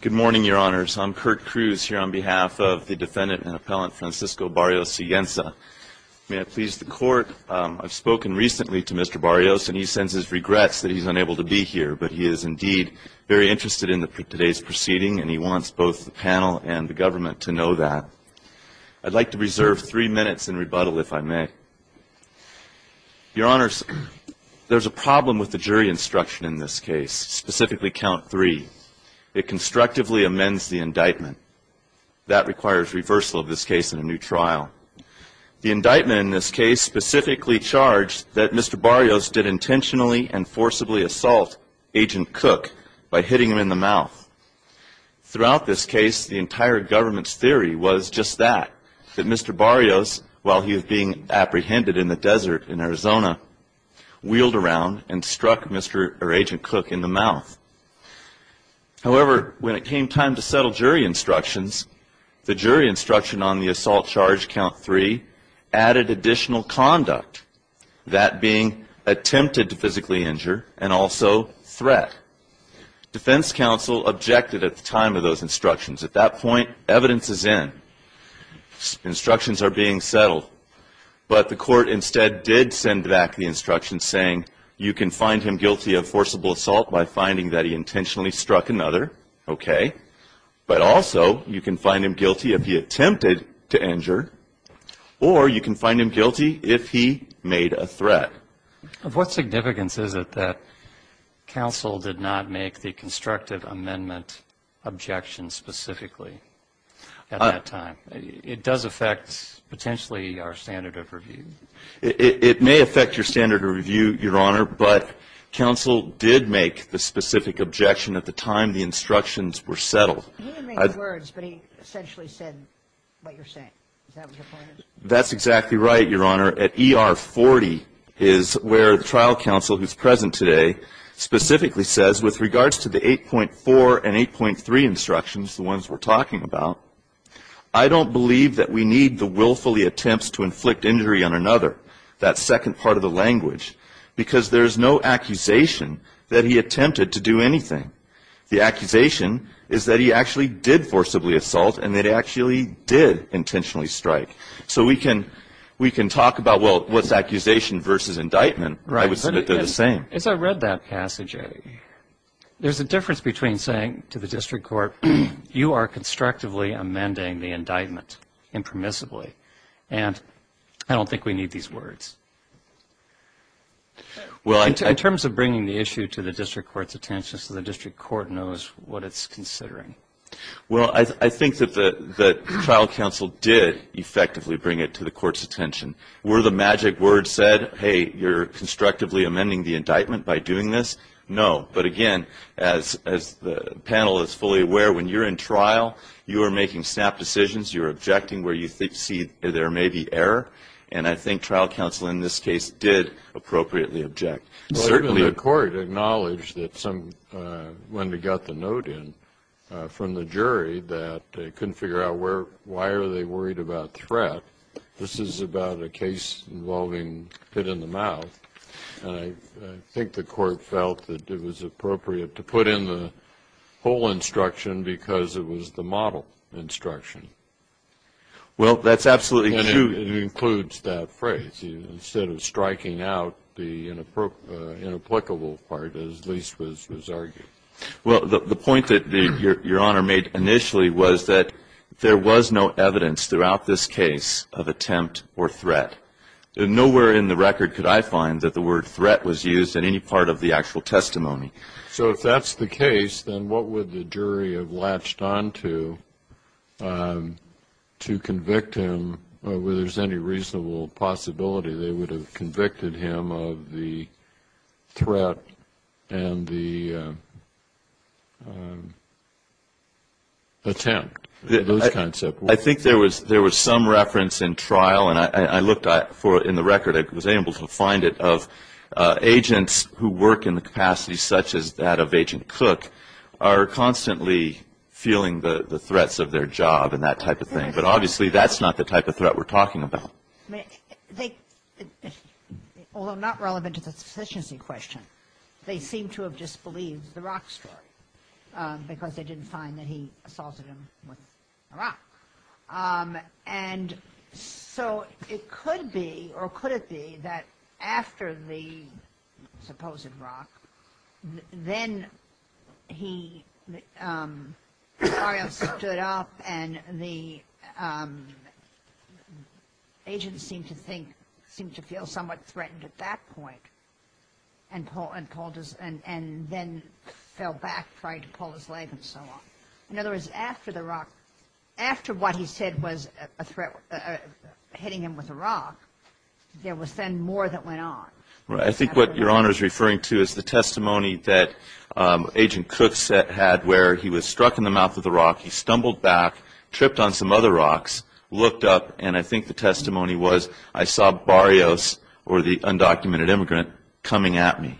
Good morning, Your Honors. I'm Kurt Cruz here on behalf of the Defendant and Appellant Francisco Barrios-Siguenza. May I please the Court? I've spoken recently to Mr. Barrios, and he sends his regrets that he's unable to be here, but he is indeed very interested in today's proceeding, and he wants both the panel and the government to know that. I'd like to reserve three minutes in rebuttal, if I may. Your Honors, there's a problem with the jury instruction in this case, specifically count three. It constructively amends the indictment. That requires reversal of this case in a new trial. The indictment in this case specifically charged that Mr. Barrios did intentionally and forcibly assault Agent Cook by hitting him in the mouth. Throughout this case, the entire government's theory was just that, that Mr. Barrios, while he was being apprehended in the desert in Arizona, wheeled around and struck Agent Cook in the mouth. However, when it came time to settle jury instructions, the jury instruction on the assault charge count three added additional conduct, that being attempted to physically injure and also threat. Defense counsel objected at the time of those instructions. At that point, evidence is in. Instructions are being settled. But the court instead did send back the instructions saying, you can find him guilty of forcible assault by finding that he intentionally struck another, okay, but also you can find him guilty if he attempted to injure, or you can find him guilty if he made a threat. Of what significance is it that counsel did not make the constructive amendment objection specifically at that time? It does affect potentially our standard of review. It may affect your standard of review, Your Honor, but counsel did make the specific objection at the time the instructions were settled. He didn't make the words, but he essentially said what you're saying. Is that what you're pointing to? That's exactly right, Your Honor. At ER 40 is where the trial counsel who's present today specifically says, with regards to the 8.4 and 8.3 instructions, the ones we're talking about, I don't believe that we need the willfully attempts to inflict injury on another, that second part of the language, because there's no accusation that he attempted to do anything. The accusation is that he actually did forcibly assault and that he actually did intentionally strike. So we can talk about, well, what's accusation versus indictment. I would submit they're the same. As I read that passage, there's a difference between saying to the district court, you are constructively amending the indictment impermissibly, and I don't think we need these words. In terms of bringing the issue to the district court's attention so the district court knows what it's considering. Well, I think that the trial counsel did effectively bring it to the court's attention. Were the magic words said, hey, you're constructively amending the indictment by doing this? No. But again, as the panel is fully aware, when you're in trial, you are making snap decisions. You're objecting where you see there may be error. And I think trial counsel in this case did appropriately object. Certainly the court acknowledged that somebody got the note in from the jury that they couldn't figure out why are they worried about threat. This is about a case involving hit in the mouth. I think the court felt that it was appropriate to put in the whole instruction because it was the model instruction. Well, that's absolutely true. It includes that phrase. Instead of striking out the inapplicable part, as Lise was arguing. Well, the point that Your Honor made initially was that there was no evidence throughout this case of attempt or threat. Nowhere in the record could I find that the word threat was used in any part of the actual testimony. So if that's the case, then what would the jury have latched on to to convict him where there's any reasonable possibility they would have convicted him of the threat and the attempt, those kinds of words? I think there was some reference in trial. And I looked for it in the record. I was able to find it of agents who work in the capacity such as that of Agent Cook are constantly feeling the threats of their job and that type of thing. But obviously, that's not the type of threat we're talking about. Although not relevant to the sufficiency question, they seem to have disbelieved the Rock story because they didn't find that he assaulted him with a rock. And so it could be or could it be that after the supposed rock, then he stood up and the agent seemed to think, seemed to feel somewhat threatened at that point and then fell back, tried to pull his leg and so on. In other words, after the rock, after what he said was a threat, hitting him with a rock, there was then more that went on. I think what Your Honor is referring to is the testimony that Agent Cook had where he was struck in the mouth of the rock, he stumbled back, tripped on some other rocks, looked up, and I think the testimony was I saw Barrios or the undocumented immigrant coming at me.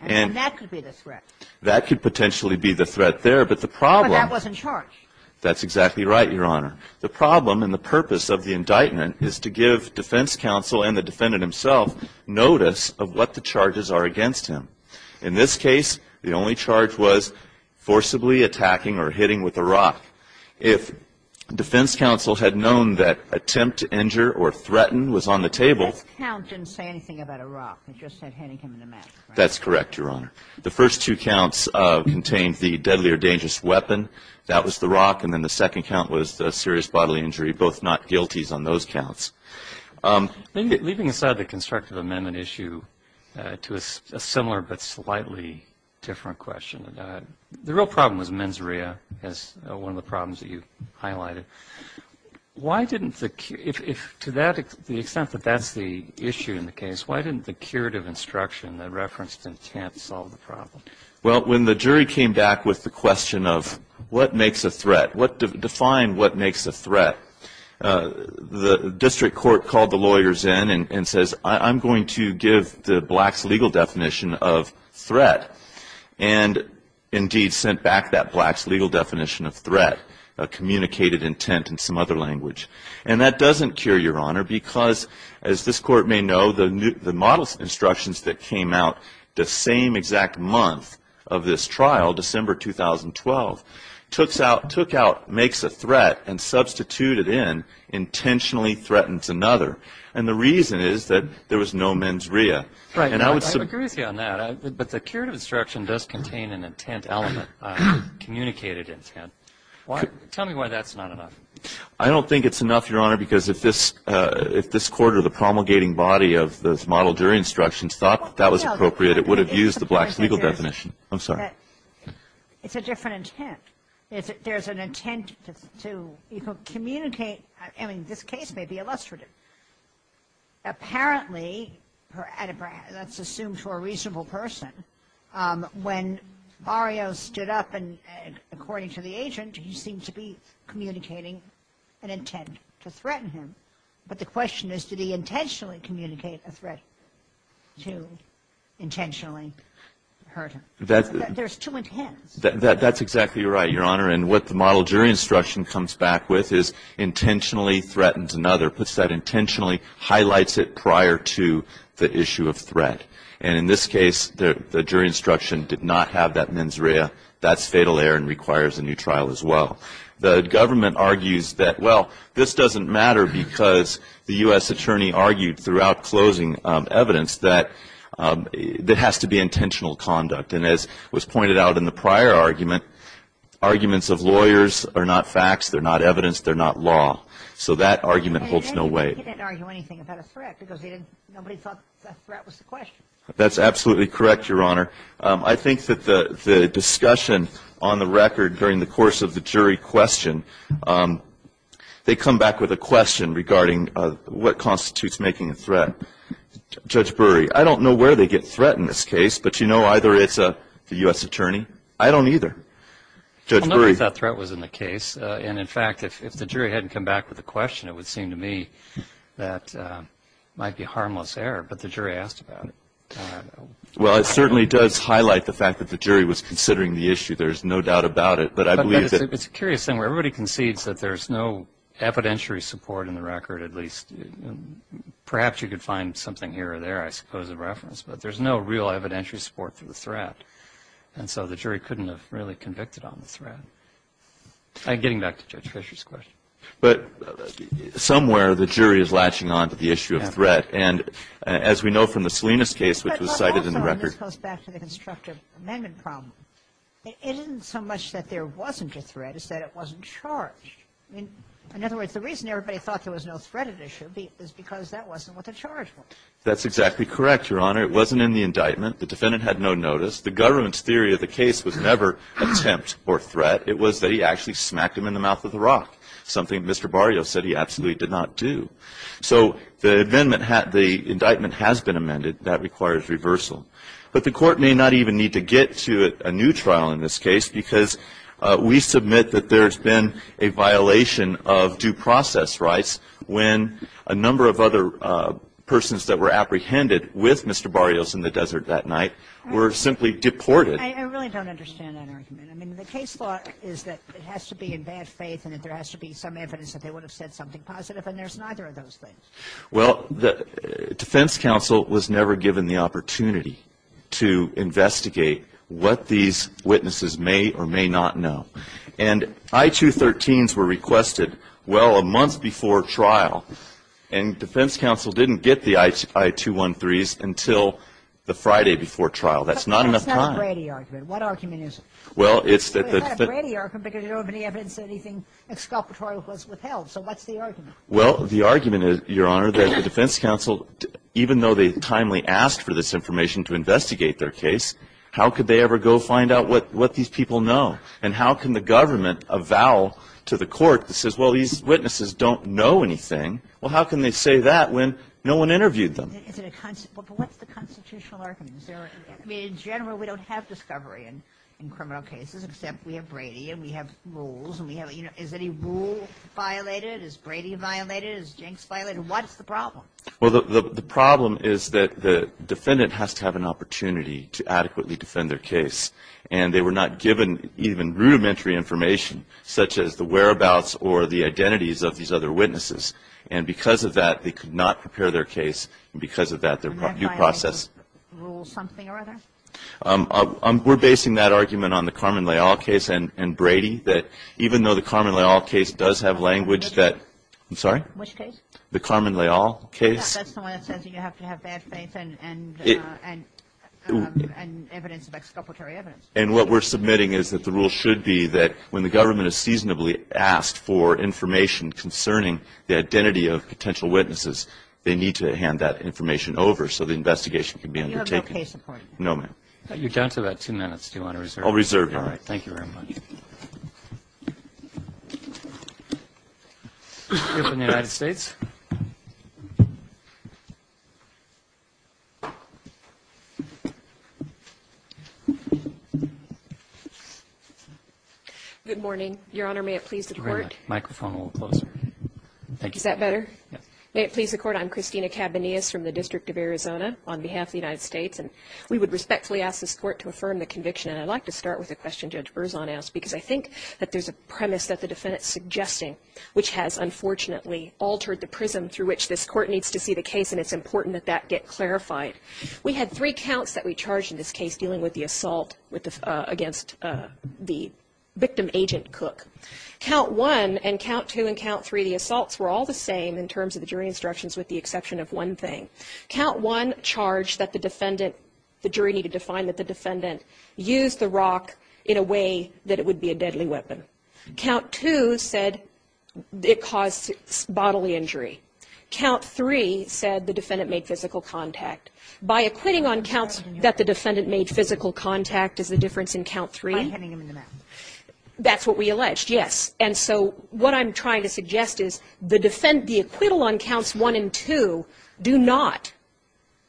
And that could be the threat. That could potentially be the threat there. But the problem But that wasn't charged. That's exactly right, Your Honor. The problem and the purpose of the indictment is to give defense counsel and the defendant himself notice of what the charges are against him. In this case, the only charge was forcibly attacking or hitting with a rock. If defense counsel had known that attempt to injure or threaten was on the table That count didn't say anything about a rock. It just said hitting him in the mouth. That's correct, Your Honor. The first two counts contained the deadly or dangerous weapon. That was the rock. And then the second count was a serious bodily injury, both not guilties on those counts. Leaving aside the constructive amendment issue to a similar but slightly different question, the real problem was mens rea as one of the problems that you highlighted. Why didn't the, to the extent that that's the issue in the case, why didn't the curative instruction that referenced intent solve the problem? Well, when the jury came back with the question of what makes a threat, define what makes a threat, the district court called the lawyers in and says, I'm going to give the blacks legal definition of threat. And, indeed, sent back that blacks legal definition of threat, a communicated intent in some other language. And that doesn't cure, Your Honor, because, as this Court may know, the model instructions that came out the same exact month of this trial, December 2012, took out makes a threat and substituted in intentionally threatens another. And the reason is that there was no mens rea. Right. I agree with you on that. But the curative instruction does contain an intent element, a communicated intent. Tell me why that's not enough. I don't think it's enough, Your Honor, because if this Court or the promulgating body of this model jury instructions thought that was appropriate, it would have used the blacks legal definition. I'm sorry. It's a different intent. There's an intent to communicate. I mean, this case may be illustrative. Apparently, that's assumed for a reasonable person, when Mario stood up and, according to the agent, he seemed to be communicating an intent to threaten him. But the question is, did he intentionally communicate a threat to intentionally hurt him? There's two intents. That's exactly right, Your Honor. And what the model jury instruction comes back with is intentionally threatens another, puts that intentionally, highlights it prior to the issue of threat. And in this case, the jury instruction did not have that mens rea. That's fatal error and requires a new trial as well. The government argues that, well, this doesn't matter because the U.S. attorney argued throughout closing evidence that it has to be intentional conduct. And as was pointed out in the prior argument, arguments of lawyers are not facts. They're not evidence. They're not law. So that argument holds no weight. He didn't argue anything about a threat because nobody thought that threat was the question. That's absolutely correct, Your Honor. I think that the discussion on the record during the course of the jury question, they come back with a question regarding what constitutes making a threat. Judge Burry, I don't know where they get threat in this case, but you know either it's the U.S. attorney. I don't either. Judge Burry. Well, nobody thought threat was in the case. And, in fact, if the jury hadn't come back with a question, it would seem to me that it might be harmless error. But the jury asked about it. Well, it certainly does highlight the fact that the jury was considering the issue. There's no doubt about it. But it's a curious thing where everybody concedes that there's no evidentiary support in the record, at least. Perhaps you could find something here or there, I suppose, of reference. But there's no real evidentiary support for the threat. And so the jury couldn't have really convicted on the threat. Getting back to Judge Fisher's question. But somewhere the jury is latching on to the issue of threat. And as we know from the Salinas case, which was cited in the record. But also, and this goes back to the constructive amendment problem, it isn't so much that there wasn't a threat as that it wasn't charged. In other words, the reason everybody thought there was no threat at issue is because that wasn't what the charge was. That's exactly correct, Your Honor. It wasn't in the indictment. The defendant had no notice. The government's theory of the case was never attempt or threat. It was that he actually smacked him in the mouth with a rock, something Mr. Barrio said he absolutely did not do. So the amendment had the indictment has been amended. That requires reversal. But the Court may not even need to get to a new trial in this case because we submit that there's been a violation of due process rights when a number of other persons that were apprehended with Mr. Barrio's in the desert that night were simply deported. I really don't understand that argument. I mean, the case law is that it has to be in bad faith and that there has to be some evidence that they would have said something positive, and there's neither of those things. Well, the defense counsel was never given the opportunity to investigate what these witnesses may or may not know. And I-213s were requested, well, a month before trial. And defense counsel didn't get the I-213s until the Friday before trial. That's not enough time. That's not a Brady argument. What argument is it? Well, it's that the defense ---- It's not a Brady argument because there wasn't any evidence that anything exculpatory was withheld. So what's the argument? Well, the argument is, Your Honor, that the defense counsel, even though they timely asked for this information to investigate their case, how could they ever go find out what these people know? And how can the government avow to the court that says, well, these witnesses don't know anything? Well, how can they say that when no one interviewed them? But what's the constitutional argument? I mean, in general, we don't have discovery in criminal cases except we have Brady and we have rules and we have ---- Is any rule violated? Is Brady violated? Is Jenks violated? What's the problem? Well, the problem is that the defendant has to have an opportunity to adequately defend their case. And they were not given even rudimentary information, such as the whereabouts or the identities of these other witnesses. And because of that, they could not prepare their case. And because of that, their due process ---- And that violation rules something or other? We're basing that argument on the Carmen Leal case and Brady, that even though the Carmen Leal case does have language that ---- Which case? I'm sorry? Which case? The Carmen Leal case. Yes, that's the one that says you have to have bad faith and evidence of exculpatory evidence. And what we're submitting is that the rule should be that when the government is seasonably asked for information concerning the identity of potential witnesses, they need to hand that information over so the investigation can be undertaken. And you have no case support? No, ma'am. You're down to about two minutes. Do you want to reserve? I'll reserve. All right. Thank you very much. You're up in the United States. Good morning, Your Honor. May it please the Court? The microphone will close. Thank you. Is that better? Yes. May it please the Court? I'm Christina Cabanillas from the District of Arizona on behalf of the United States. And we would respectfully ask this Court to affirm the conviction. And I'd like to start with a question Judge Berzon asked, because I think that there's a premise that the defendant's suggesting, which has, unfortunately, altered the prism through which this Court needs to see the case, and it's important that that get clarified. We had three counts that we charged in this case dealing with the assault against the victim, Agent Cook. Count one and count two and count three, the assaults were all the same in terms of the jury instructions, with the exception of one thing. Count one charged that the defendant, the jury needed to find that the defendant used the rock in a way that it would be a deadly weapon. Count two said it caused bodily injury. Count three said the defendant made physical contact. By acquitting on counts that the defendant made physical contact is the difference in count three. By hitting him in the mouth. That's what we alleged, yes. And so what I'm trying to suggest is the acquittal on counts one and two do not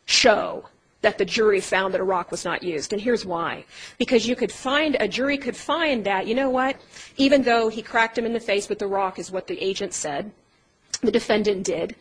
show that the jury found that a rock was not used. And here's why. Because you could find, a jury could find that, you know what, even though he cracked him in the face with the rock is what the agent said, the defendant did,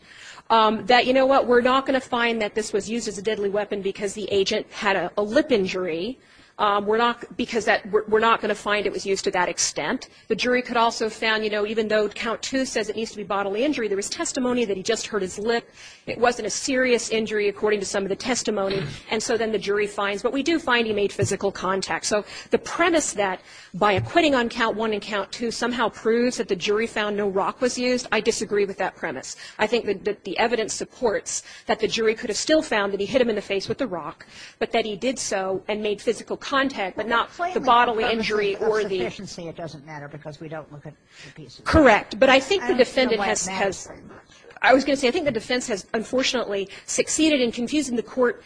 that, you know what, we're not going to find that this was used as a deadly weapon because the agent had a lip injury. We're not going to find it was used to that extent. The jury could also found, you know, even though count two says it needs to be bodily injury, there was testimony that he just hurt his lip. It wasn't a serious injury according to some of the testimony. And so then the jury finds. But we do find he made physical contact. So the premise that by acquitting on count one and count two somehow proves that the jury found no rock was used, I disagree with that premise. I think that the evidence supports that the jury could have still found that he hit him in the face with the rock, but that he did so and made physical contact, but not the bodily injury or the. It doesn't matter because we don't look at the pieces. Correct. But I think the defendant has. I was going to say I think the defense has unfortunately succeeded in confusing the court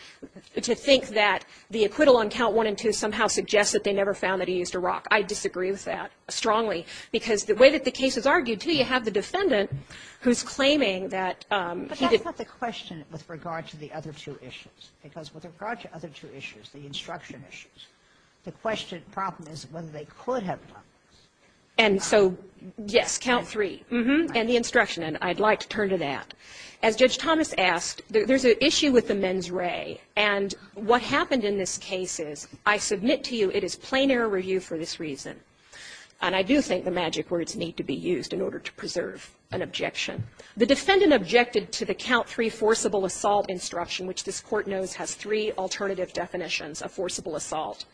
to think that the acquittal on count one and two somehow suggests that they never found that he used a rock. I disagree with that strongly because the way that the case is argued, too, you have the defendant who's claiming that he did. But that's not the question with regard to the other two issues. Because with regard to other two issues, the instruction issues, the question of the problem is whether they could have done this. And so, yes, count three, and the instruction. And I'd like to turn to that. As Judge Thomas asked, there's an issue with the men's ray. And what happened in this case is, I submit to you, it is plain error review for this reason. And I do think the magic words need to be used in order to preserve an objection. The defendant objected to the count three forcible assault instruction, which this Court knows has three alternative definitions of forcible assault.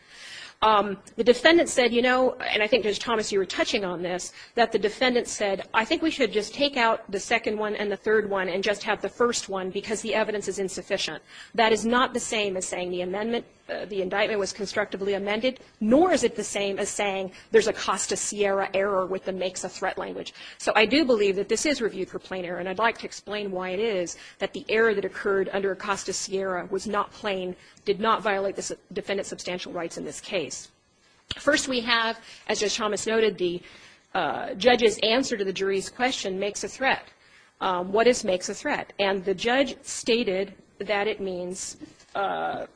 The defendant said, you know, and I think, Judge Thomas, you were touching on this, that the defendant said, I think we should just take out the second one and the third one and just have the first one because the evidence is insufficient. That is not the same as saying the amendment, the indictment was constructively amended, nor is it the same as saying there's a Costa Sierra error with the makes a threat language. So I do believe that this is review for plain error. And I'd like to explain why it is that the error that occurred under Costa Sierra was not plain, did not violate the defendant's substantial rights in this case. First, we have, as Judge Thomas noted, the judge's answer to the jury's question, makes a threat. What is makes a threat? And the judge stated that it means to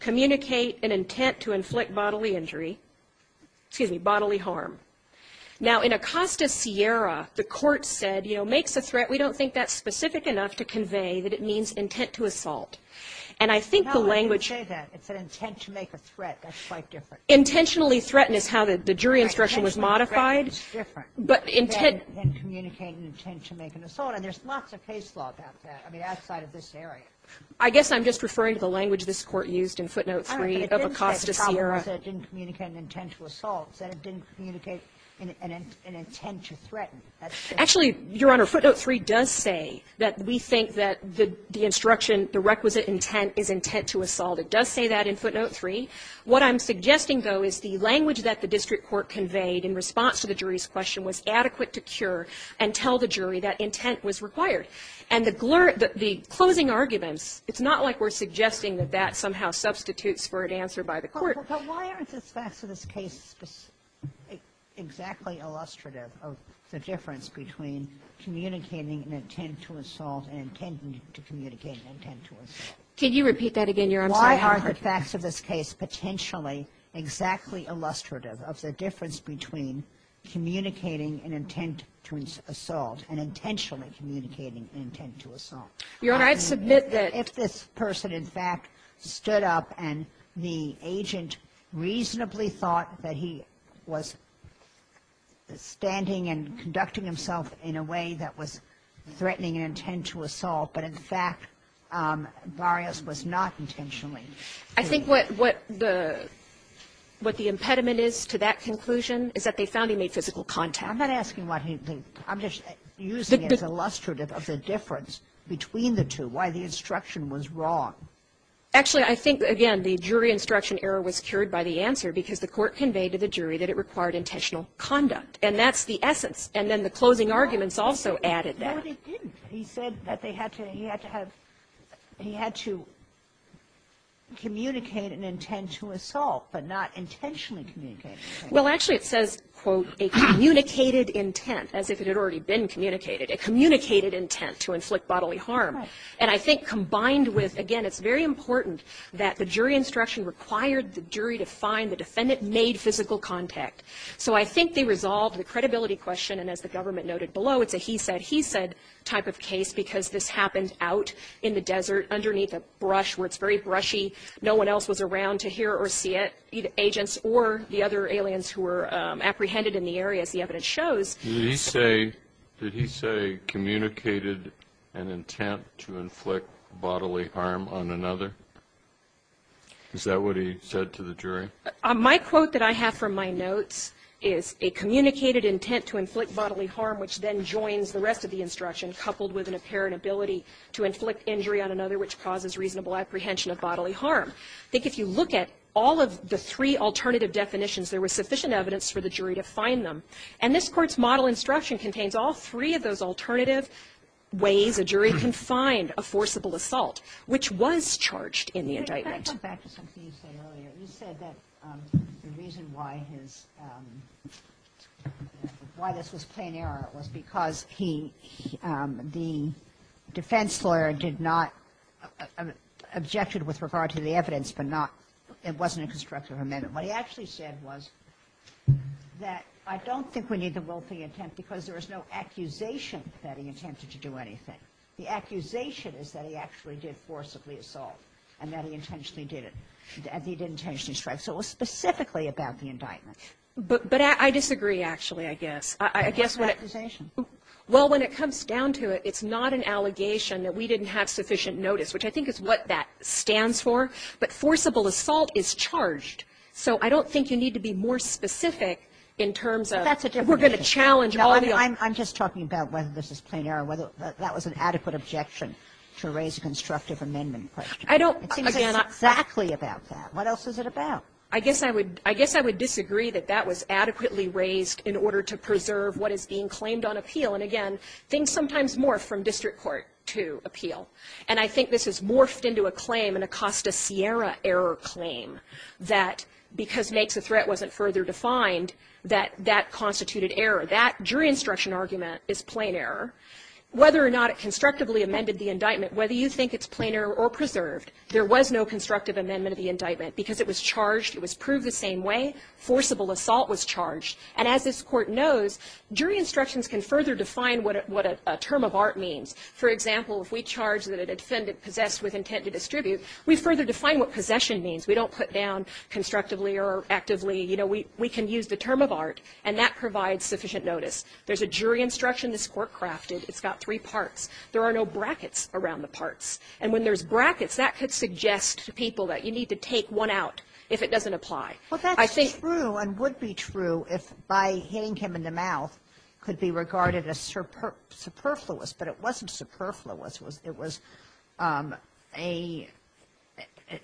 communicate an intent to inflict bodily injury excuse me, bodily harm. Now, in a Costa Sierra, the Court said, you know, makes a threat, we don't think that's to assault. And I think the language No, it didn't say that. It said intent to make a threat. That's quite different. Intentionally threatened is how the jury instruction was modified. Intentionally threatened is different. But intent Than communicate an intent to make an assault. And there's lots of case law about that, I mean, outside of this area. I guess I'm just referring to the language this Court used in footnote 3 of a Costa Sierra. All right. But it didn't say that didn't communicate an intent to assault. It said it didn't communicate an intent to threaten. Actually, Your Honor, footnote 3 does say that we think that the instruction the requisite intent is intent to assault. It does say that in footnote 3. What I'm suggesting, though, is the language that the district court conveyed in response to the jury's question was adequate to cure and tell the jury that intent was required. And the closing arguments, it's not like we're suggesting that that somehow substitutes for an answer by the Court. But why aren't the facts of this case exactly illustrative of the difference between communicating an intent to assault and intending to communicate an intent to assault? Did you repeat that again, Your Honor? I'm sorry. Why aren't the facts of this case potentially exactly illustrative of the difference between communicating an intent to assault and intentionally communicating an intent to assault? Your Honor, I'd submit that If this person, in fact, stood up and the agent reasonably thought that he was standing and conducting himself in a way that was threatening an intent to assault, but in fact, Varios was not intentionally doing it. I think what the impediment is to that conclusion is that they found he made physical contact. I'm not asking what he did. I'm just using it as illustrative of the difference between the two, why the instruction was wrong. Actually, I think, again, the jury instruction error was cured by the answer because the Court conveyed to the jury that it required intentional conduct. And that's the essence. And then the closing arguments also added that. No, they didn't. He said that they had to have he had to communicate an intent to assault, but not intentionally communicate an intent. Well, actually, it says, quote, a communicated intent, as if it had already been communicated, a communicated intent to inflict bodily harm. Right. And I think combined with, again, it's very important that the jury instruction required the jury to find the defendant made physical contact. So I think they resolved the credibility question. And as the government noted below, it's a he said, he said type of case because this happened out in the desert underneath a brush where it's very brushy. No one else was around to hear or see it, either agents or the other aliens who were apprehended in the area, as the evidence shows. Did he say communicated an intent to inflict bodily harm on another? Is that what he said to the jury? My quote that I have from my notes is, a communicated intent to inflict bodily harm, which then joins the rest of the instruction, coupled with an apparent ability to inflict injury on another, which causes reasonable apprehension of bodily harm. I think if you look at all of the three alternative definitions, there was sufficient evidence for the jury to find them. And this Court's model instruction contains all three of those alternative ways a jury can find a forcible assault, which was charged in the indictment. Can I come back to something you said earlier? You said that the reason why his, why this was plain error was because he, the defense lawyer did not, objected with regard to the evidence, but not, it wasn't a constructive amendment. What he actually said was that, I don't think we need the willful intent because there was no accusation that he attempted to do anything. The accusation is that he actually did forcibly assault, and that he intentionally did it. And he did intentionally strike. So it was specifically about the indictment. But I disagree, actually, I guess. I guess when it. What's the accusation? Well, when it comes down to it, it's not an allegation that we didn't have sufficient notice, which I think is what that stands for. But forcible assault is charged. So I don't think you need to be more specific in terms of. But that's a different issue. We're going to challenge all the other. I'm just talking about whether this is plain error, whether that was an adequate objection to raise a constructive amendment question. I don't. It seems exactly about that. What else is it about? I guess I would. I guess I would disagree that that was adequately raised in order to preserve what is being claimed on appeal. And again, things sometimes morph from district court to appeal. And I think this has morphed into a claim, an Acosta-Sierra error claim, that because makes a threat wasn't further defined, that that constituted error. That jury instruction argument is plain error. Whether or not it constructively amended the indictment, whether you think it's plain error or preserved, there was no constructive amendment of the indictment. Because it was charged, it was proved the same way. Forcible assault was charged. And as this Court knows, jury instructions can further define what a term of art means. For example, if we charge that a defendant possessed with intent to distribute, we further define what possession means. We don't put down constructively or actively. You know, we can use the term of art. And that provides sufficient notice. There's a jury instruction this Court crafted. It's got three parts. There are no brackets around the parts. And when there's brackets, that could suggest to people that you need to take one out I think ---- Sotomayor, I think that's true and would be true if by hitting him in the mouth could be regarded as superfluous. But it wasn't superfluous. It was a ----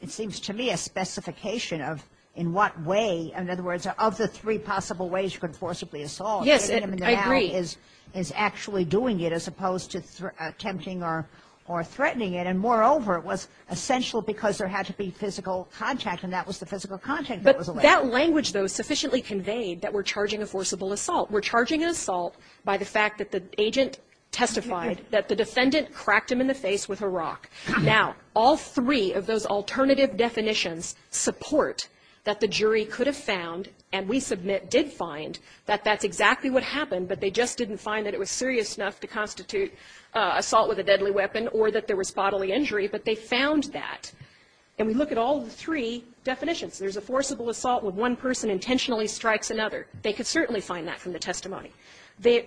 it seems to me a specification of in what way, in other words, of the three possible ways you could forcibly assault. Yes, I agree. Hitting him in the mouth is actually doing it as opposed to attempting or threatening it. And moreover, it was essential because there had to be physical contact, and that was the physical contact that was alleged. But that language, though, sufficiently conveyed that we're charging a forcible assault. We're charging an assault by the fact that the agent testified that the defendant cracked him in the face with a rock. Now, all three of those alternative definitions support that the jury could have found and we submit did find that that's exactly what happened, but they just didn't find that it was serious enough to constitute assault with a deadly weapon or that there was bodily injury. But they found that. And we look at all three definitions. There's a forcible assault where one person intentionally strikes another. They could certainly find that from the testimony.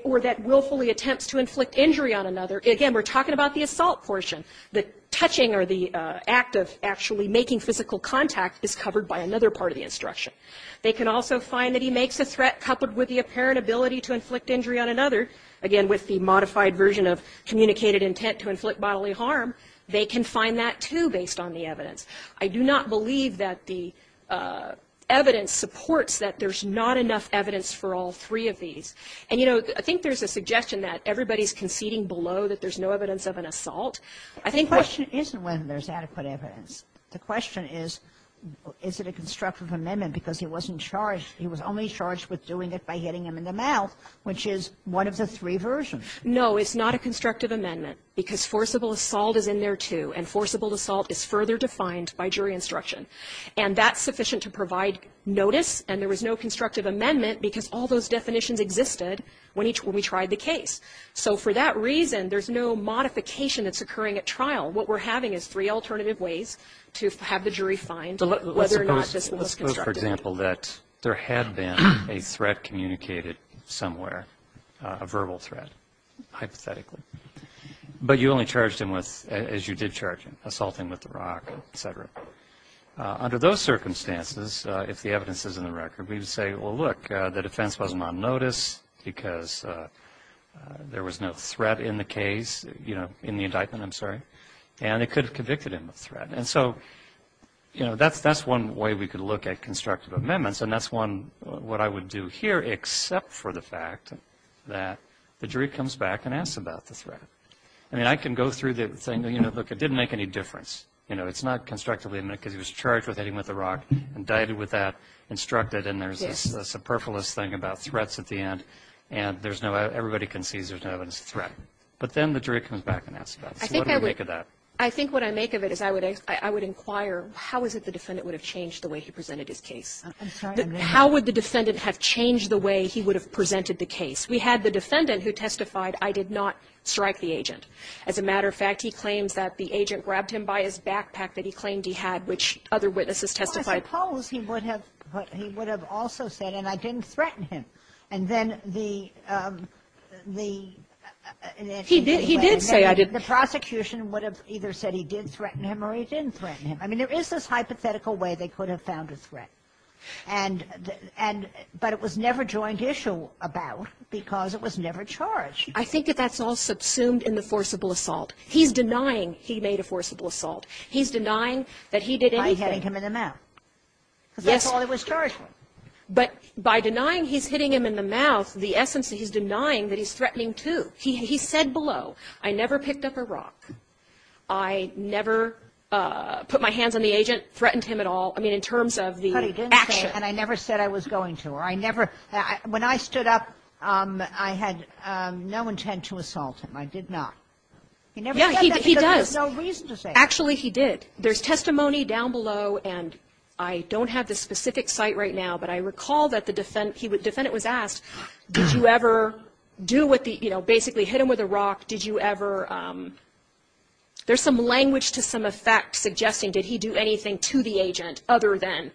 Or that willfully attempts to inflict injury on another. Again, we're talking about the assault portion. The touching or the act of actually making physical contact is covered by another part of the instruction. They can also find that he makes a threat coupled with the apparent ability to inflict injury on another. Again, with the modified version of communicated intent to inflict bodily harm, they can find that, too, based on the evidence. I do not believe that the evidence supports that there's not enough evidence for all three of these. And, you know, I think there's a suggestion that everybody's conceding below that there's no evidence of an assault. I think what the question isn't whether there's adequate evidence. The question is, is it a constructive amendment? Because he wasn't charged. He was only charged with doing it by hitting him in the mouth, which is one of the three versions. No, it's not a constructive amendment. Because forcible assault is in there, too. And forcible assault is further defined by jury instruction. And that's sufficient to provide notice. And there was no constructive amendment because all those definitions existed when we tried the case. So for that reason, there's no modification that's occurring at trial. What we're having is three alternative ways to have the jury find whether or not this was constructive. Let's suppose, for example, that there had been a threat communicated somewhere, a verbal threat, hypothetically. But you only charged him with, as you did charge him, assaulting with the rock, et cetera. Under those circumstances, if the evidence is in the record, we would say, well, look, the defense wasn't on notice because there was no threat in the case, you know, right? And it could have convicted him of threat. And so, you know, that's one way we could look at constructive amendments. And that's one what I would do here except for the fact that the jury comes back and asks about the threat. I mean, I can go through the thing, you know, look, it didn't make any difference. You know, it's not constructively because he was charged with hitting with the rock, indicted with that, instructed, and there's this superfluous thing about threats at the end. And everybody concedes there's no evidence of threat. But then the jury comes back and asks about it. So what do you make of that? I think what I make of it is I would inquire, how is it the defendant would have changed the way he presented his case? I'm sorry. How would the defendant have changed the way he would have presented the case? We had the defendant who testified, I did not strike the agent. As a matter of fact, he claims that the agent grabbed him by his backpack that he claimed he had, which other witnesses testified. Well, I suppose he would have also said, and I didn't threaten him. And then the attorney said, I didn't. He did say I didn't. The prosecution would have either said he did threaten him or he didn't threaten him. I mean, there is this hypothetical way they could have found a threat. And the – but it was never joint issue about because it was never charged. I think that that's all subsumed in the forcible assault. He's denying he made a forcible assault. He's denying that he did anything. By hitting him in the mouth. Yes. Because that's all he was charged with. he's threatening, too. He said below, I never picked up a rock. I never put my hands on the agent, threatened him at all. I mean, in terms of the action. But he didn't say, and I never said I was going to, or I never – when I stood up, I had no intent to assault him. I did not. He never said that because there was no reason to say that. Yeah, he does. Actually, he did. There's testimony down below, and I don't have the specific site right now, but I recall that the defendant was asked, did you ever do what the – you know, basically hit him with a rock, did you ever – there's some language to some effect suggesting did he do anything to the agent other than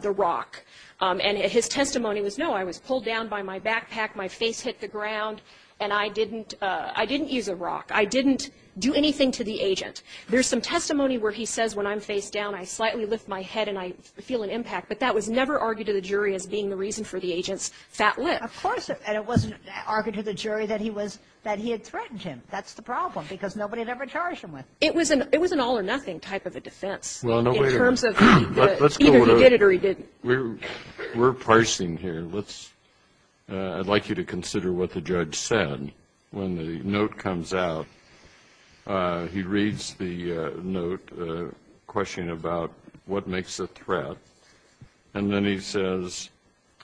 the rock. And his testimony was, no, I was pulled down by my backpack, my face hit the ground, and I didn't use a rock. I didn't do anything to the agent. There's some testimony where he says, when I'm facedown, I slightly lift my head and I feel an impact. But that was never argued to the jury as being the reason for the agent's fat lift. Of course. And it wasn't argued to the jury that he was – that he had threatened him. That's the problem, because nobody would ever charge him with it. It was an all-or-nothing type of a defense in terms of either he did it or he didn't. We're parsing here. Let's – I'd like you to consider what the judge said. When the note comes out, he reads the note questioning about what makes a threat, and then he says,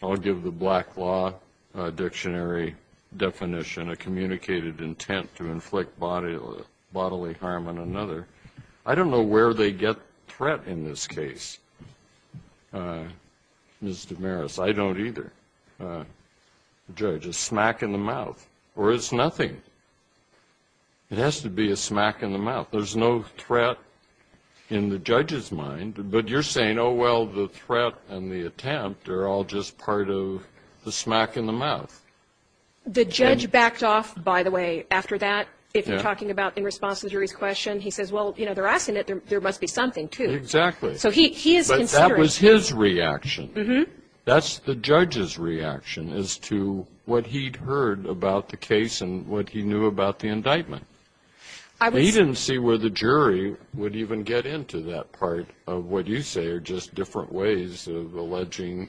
I'll give the Black Law Dictionary definition, a communicated intent to inflict bodily harm on another. I don't know where they get threat in this case, Ms. DeMaris. I don't either. The judge is smack in the mouth, or it's nothing. It has to be a smack in the mouth. There's no threat in the judge's mind. But you're saying, oh, well, the threat and the attempt are all just part of the smack in the mouth. The judge backed off, by the way, after that. If you're talking about in response to the jury's question, he says, well, you know, they're asking it. There must be something, too. Exactly. So he is considering. But that was his reaction. That's the judge's reaction as to what he'd heard about the case and what he knew about the indictment. He didn't see where the jury would even get into that part of what you say are just different ways of alleging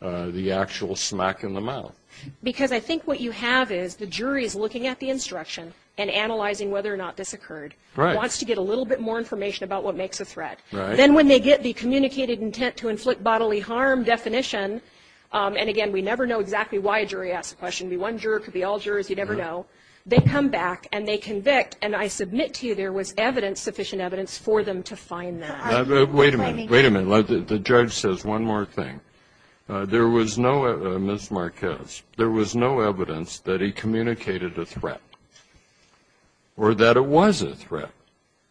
the actual smack in the mouth. Because I think what you have is the jury is looking at the instruction and analyzing whether or not this occurred. Right. Wants to get a little bit more information about what makes a threat. Right. And then when they get the communicated intent to inflict bodily harm definition, and, again, we never know exactly why a jury asks a question. It could be one juror. It could be all jurors. You never know. They come back and they convict. And I submit to you there was evidence, sufficient evidence, for them to find that. Wait a minute. Wait a minute. The judge says one more thing. There was no, Ms. Marquez, there was no evidence that he communicated a threat or that it was a threat.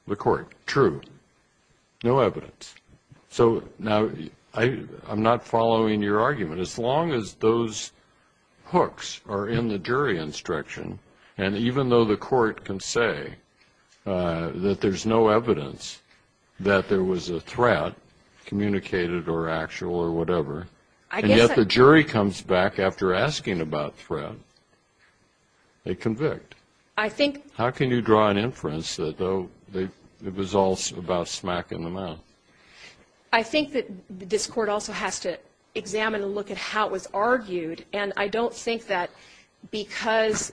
The court. True. No evidence. So, now, I'm not following your argument. As long as those hooks are in the jury instruction, and even though the court can say that there's no evidence that there was a threat, communicated or actual or whatever, and yet the jury comes back after asking about threat, they convict. I think. How can you draw an inference that, oh, it was all about smack in the mouth? I think that this Court also has to examine and look at how it was argued. And I don't think that because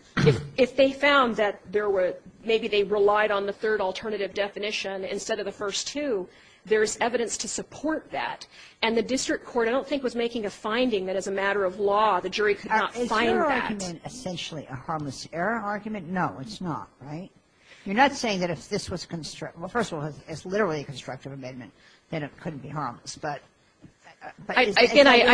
if they found that there were, maybe they relied on the third alternative definition instead of the first two, there's evidence to support that. And the district court, I don't think, was making a finding that as a matter of law the jury could not find that. Is your argument essentially a harmless error argument? No, it's not. Right? You're not saying that if this was, well, first of all, it's literally a constructive amendment, then it couldn't be harmless. But is it a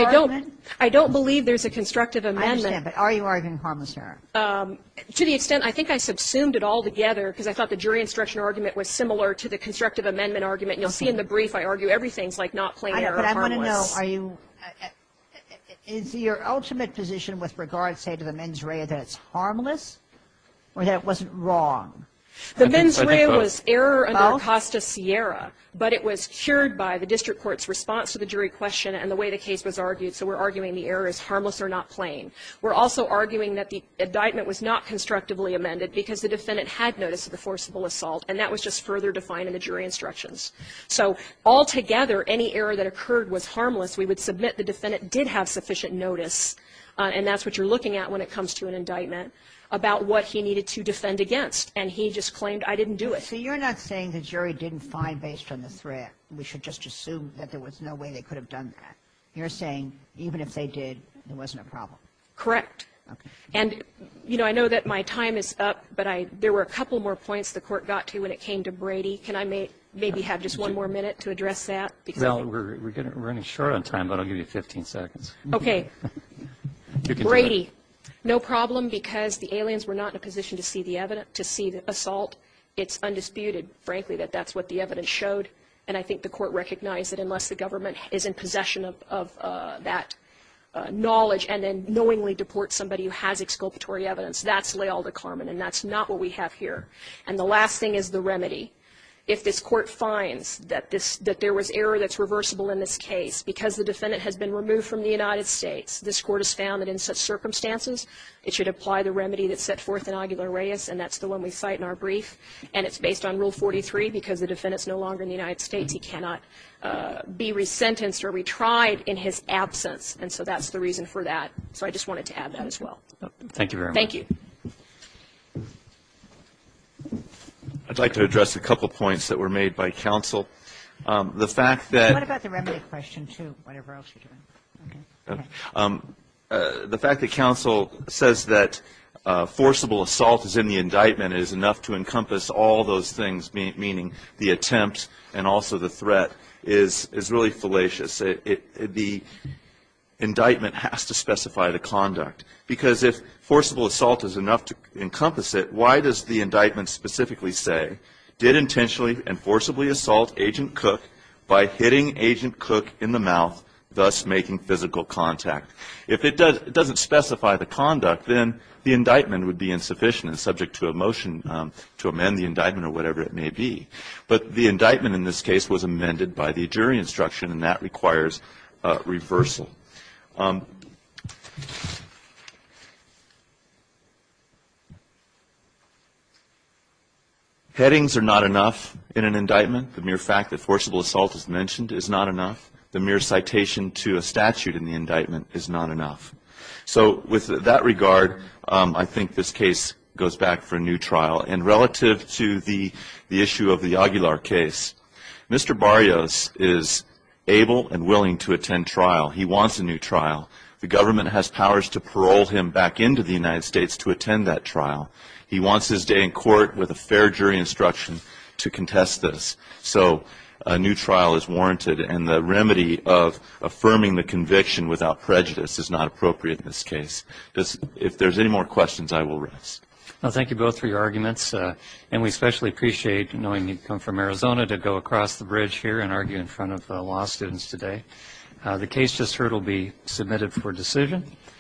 harmless? Again, I don't believe there's a constructive amendment. I understand. But are you arguing harmless error? To the extent, I think I subsumed it all together because I thought the jury instruction argument was similar to the constructive amendment argument. And you'll see in the brief I argue everything's like not plain error or harmless. But I want to know, are you – is your ultimate position with regard, say, to the mens rea, that it's harmless or that it wasn't wrong? The mens rea was error under Acosta-Sierra, but it was cured by the district court's response to the jury question and the way the case was argued. So we're arguing the error is harmless or not plain. We're also arguing that the indictment was not constructively amended because the defendant had notice of the forcible assault, and that was just further defined in the jury instructions. So altogether, any error that occurred was harmless. We would submit the defendant did have sufficient notice, and that's what you're looking at when it comes to an indictment, about what he needed to defend against. And he just claimed, I didn't do it. So you're not saying the jury didn't find, based on the threat, we should just assume that there was no way they could have done that. You're saying even if they did, there wasn't a problem. Correct. Okay. And, you know, I know that my time is up, but I – there were a couple more points the Court got to when it came to Brady. Can I maybe have just one more minute to address that? Well, we're running short on time, but I'll give you 15 seconds. Okay. Brady. No problem, because the aliens were not in a position to see the evidence, to see the assault. It's undisputed, frankly, that that's what the evidence showed. And I think the Court recognized that unless the government is in possession of that knowledge and then knowingly deports somebody who has exculpatory evidence, that's leal de carmen, and that's not what we have here. And the last thing is the remedy. If this Court finds that this – that there was error that's reversible in this case because the defendant has been removed from the United States, this Court has found that in such circumstances, it should apply the remedy that's set forth in Aguilar-Reyes, and that's the one we cite in our brief. And it's based on Rule 43, because the defendant is no longer in the United States. He cannot be resentenced or retried in his absence. And so that's the reason for that. So I just wanted to add that as well. Thank you very much. Thank you. I'd like to address a couple points that were made by counsel. The fact that – What about the remedy question, too, whatever else you're doing? Okay. The fact that counsel says that forcible assault is in the indictment is enough to encompass all those things, meaning the attempt and also the threat, is really fallacious. The indictment has to specify the conduct, because if forcible assault is enough to encompass it, why does the indictment specifically say, did intentionally and forcibly assault Agent Cook by hitting Agent Cook in the mouth, thus making physical contact? If it doesn't specify the conduct, then the indictment would be insufficient and subject to a motion to amend the indictment or whatever it may be. But the indictment in this case was amended by the jury instruction, and that requires reversal. Headings are not enough in an indictment. The mere fact that forcible assault is mentioned is not enough. The mere citation to a statute in the indictment is not enough. So with that regard, I think this case goes back for a new trial. And relative to the issue of the Aguilar case, Mr. Barrios is able and willing to attend trial. He wants a new trial. The government has powers to parole him back into the United States to attend that trial. He wants his day in court with a fair jury instruction to contest this. So a new trial is warranted, and the remedy of affirming the conviction without prejudice is not appropriate in this case. If there's any more questions, I will rest. Well, thank you both for your arguments, and we especially appreciate knowing you've come from Arizona to go across the bridge here and argue in front of law students today. The case just heard will be submitted for decision.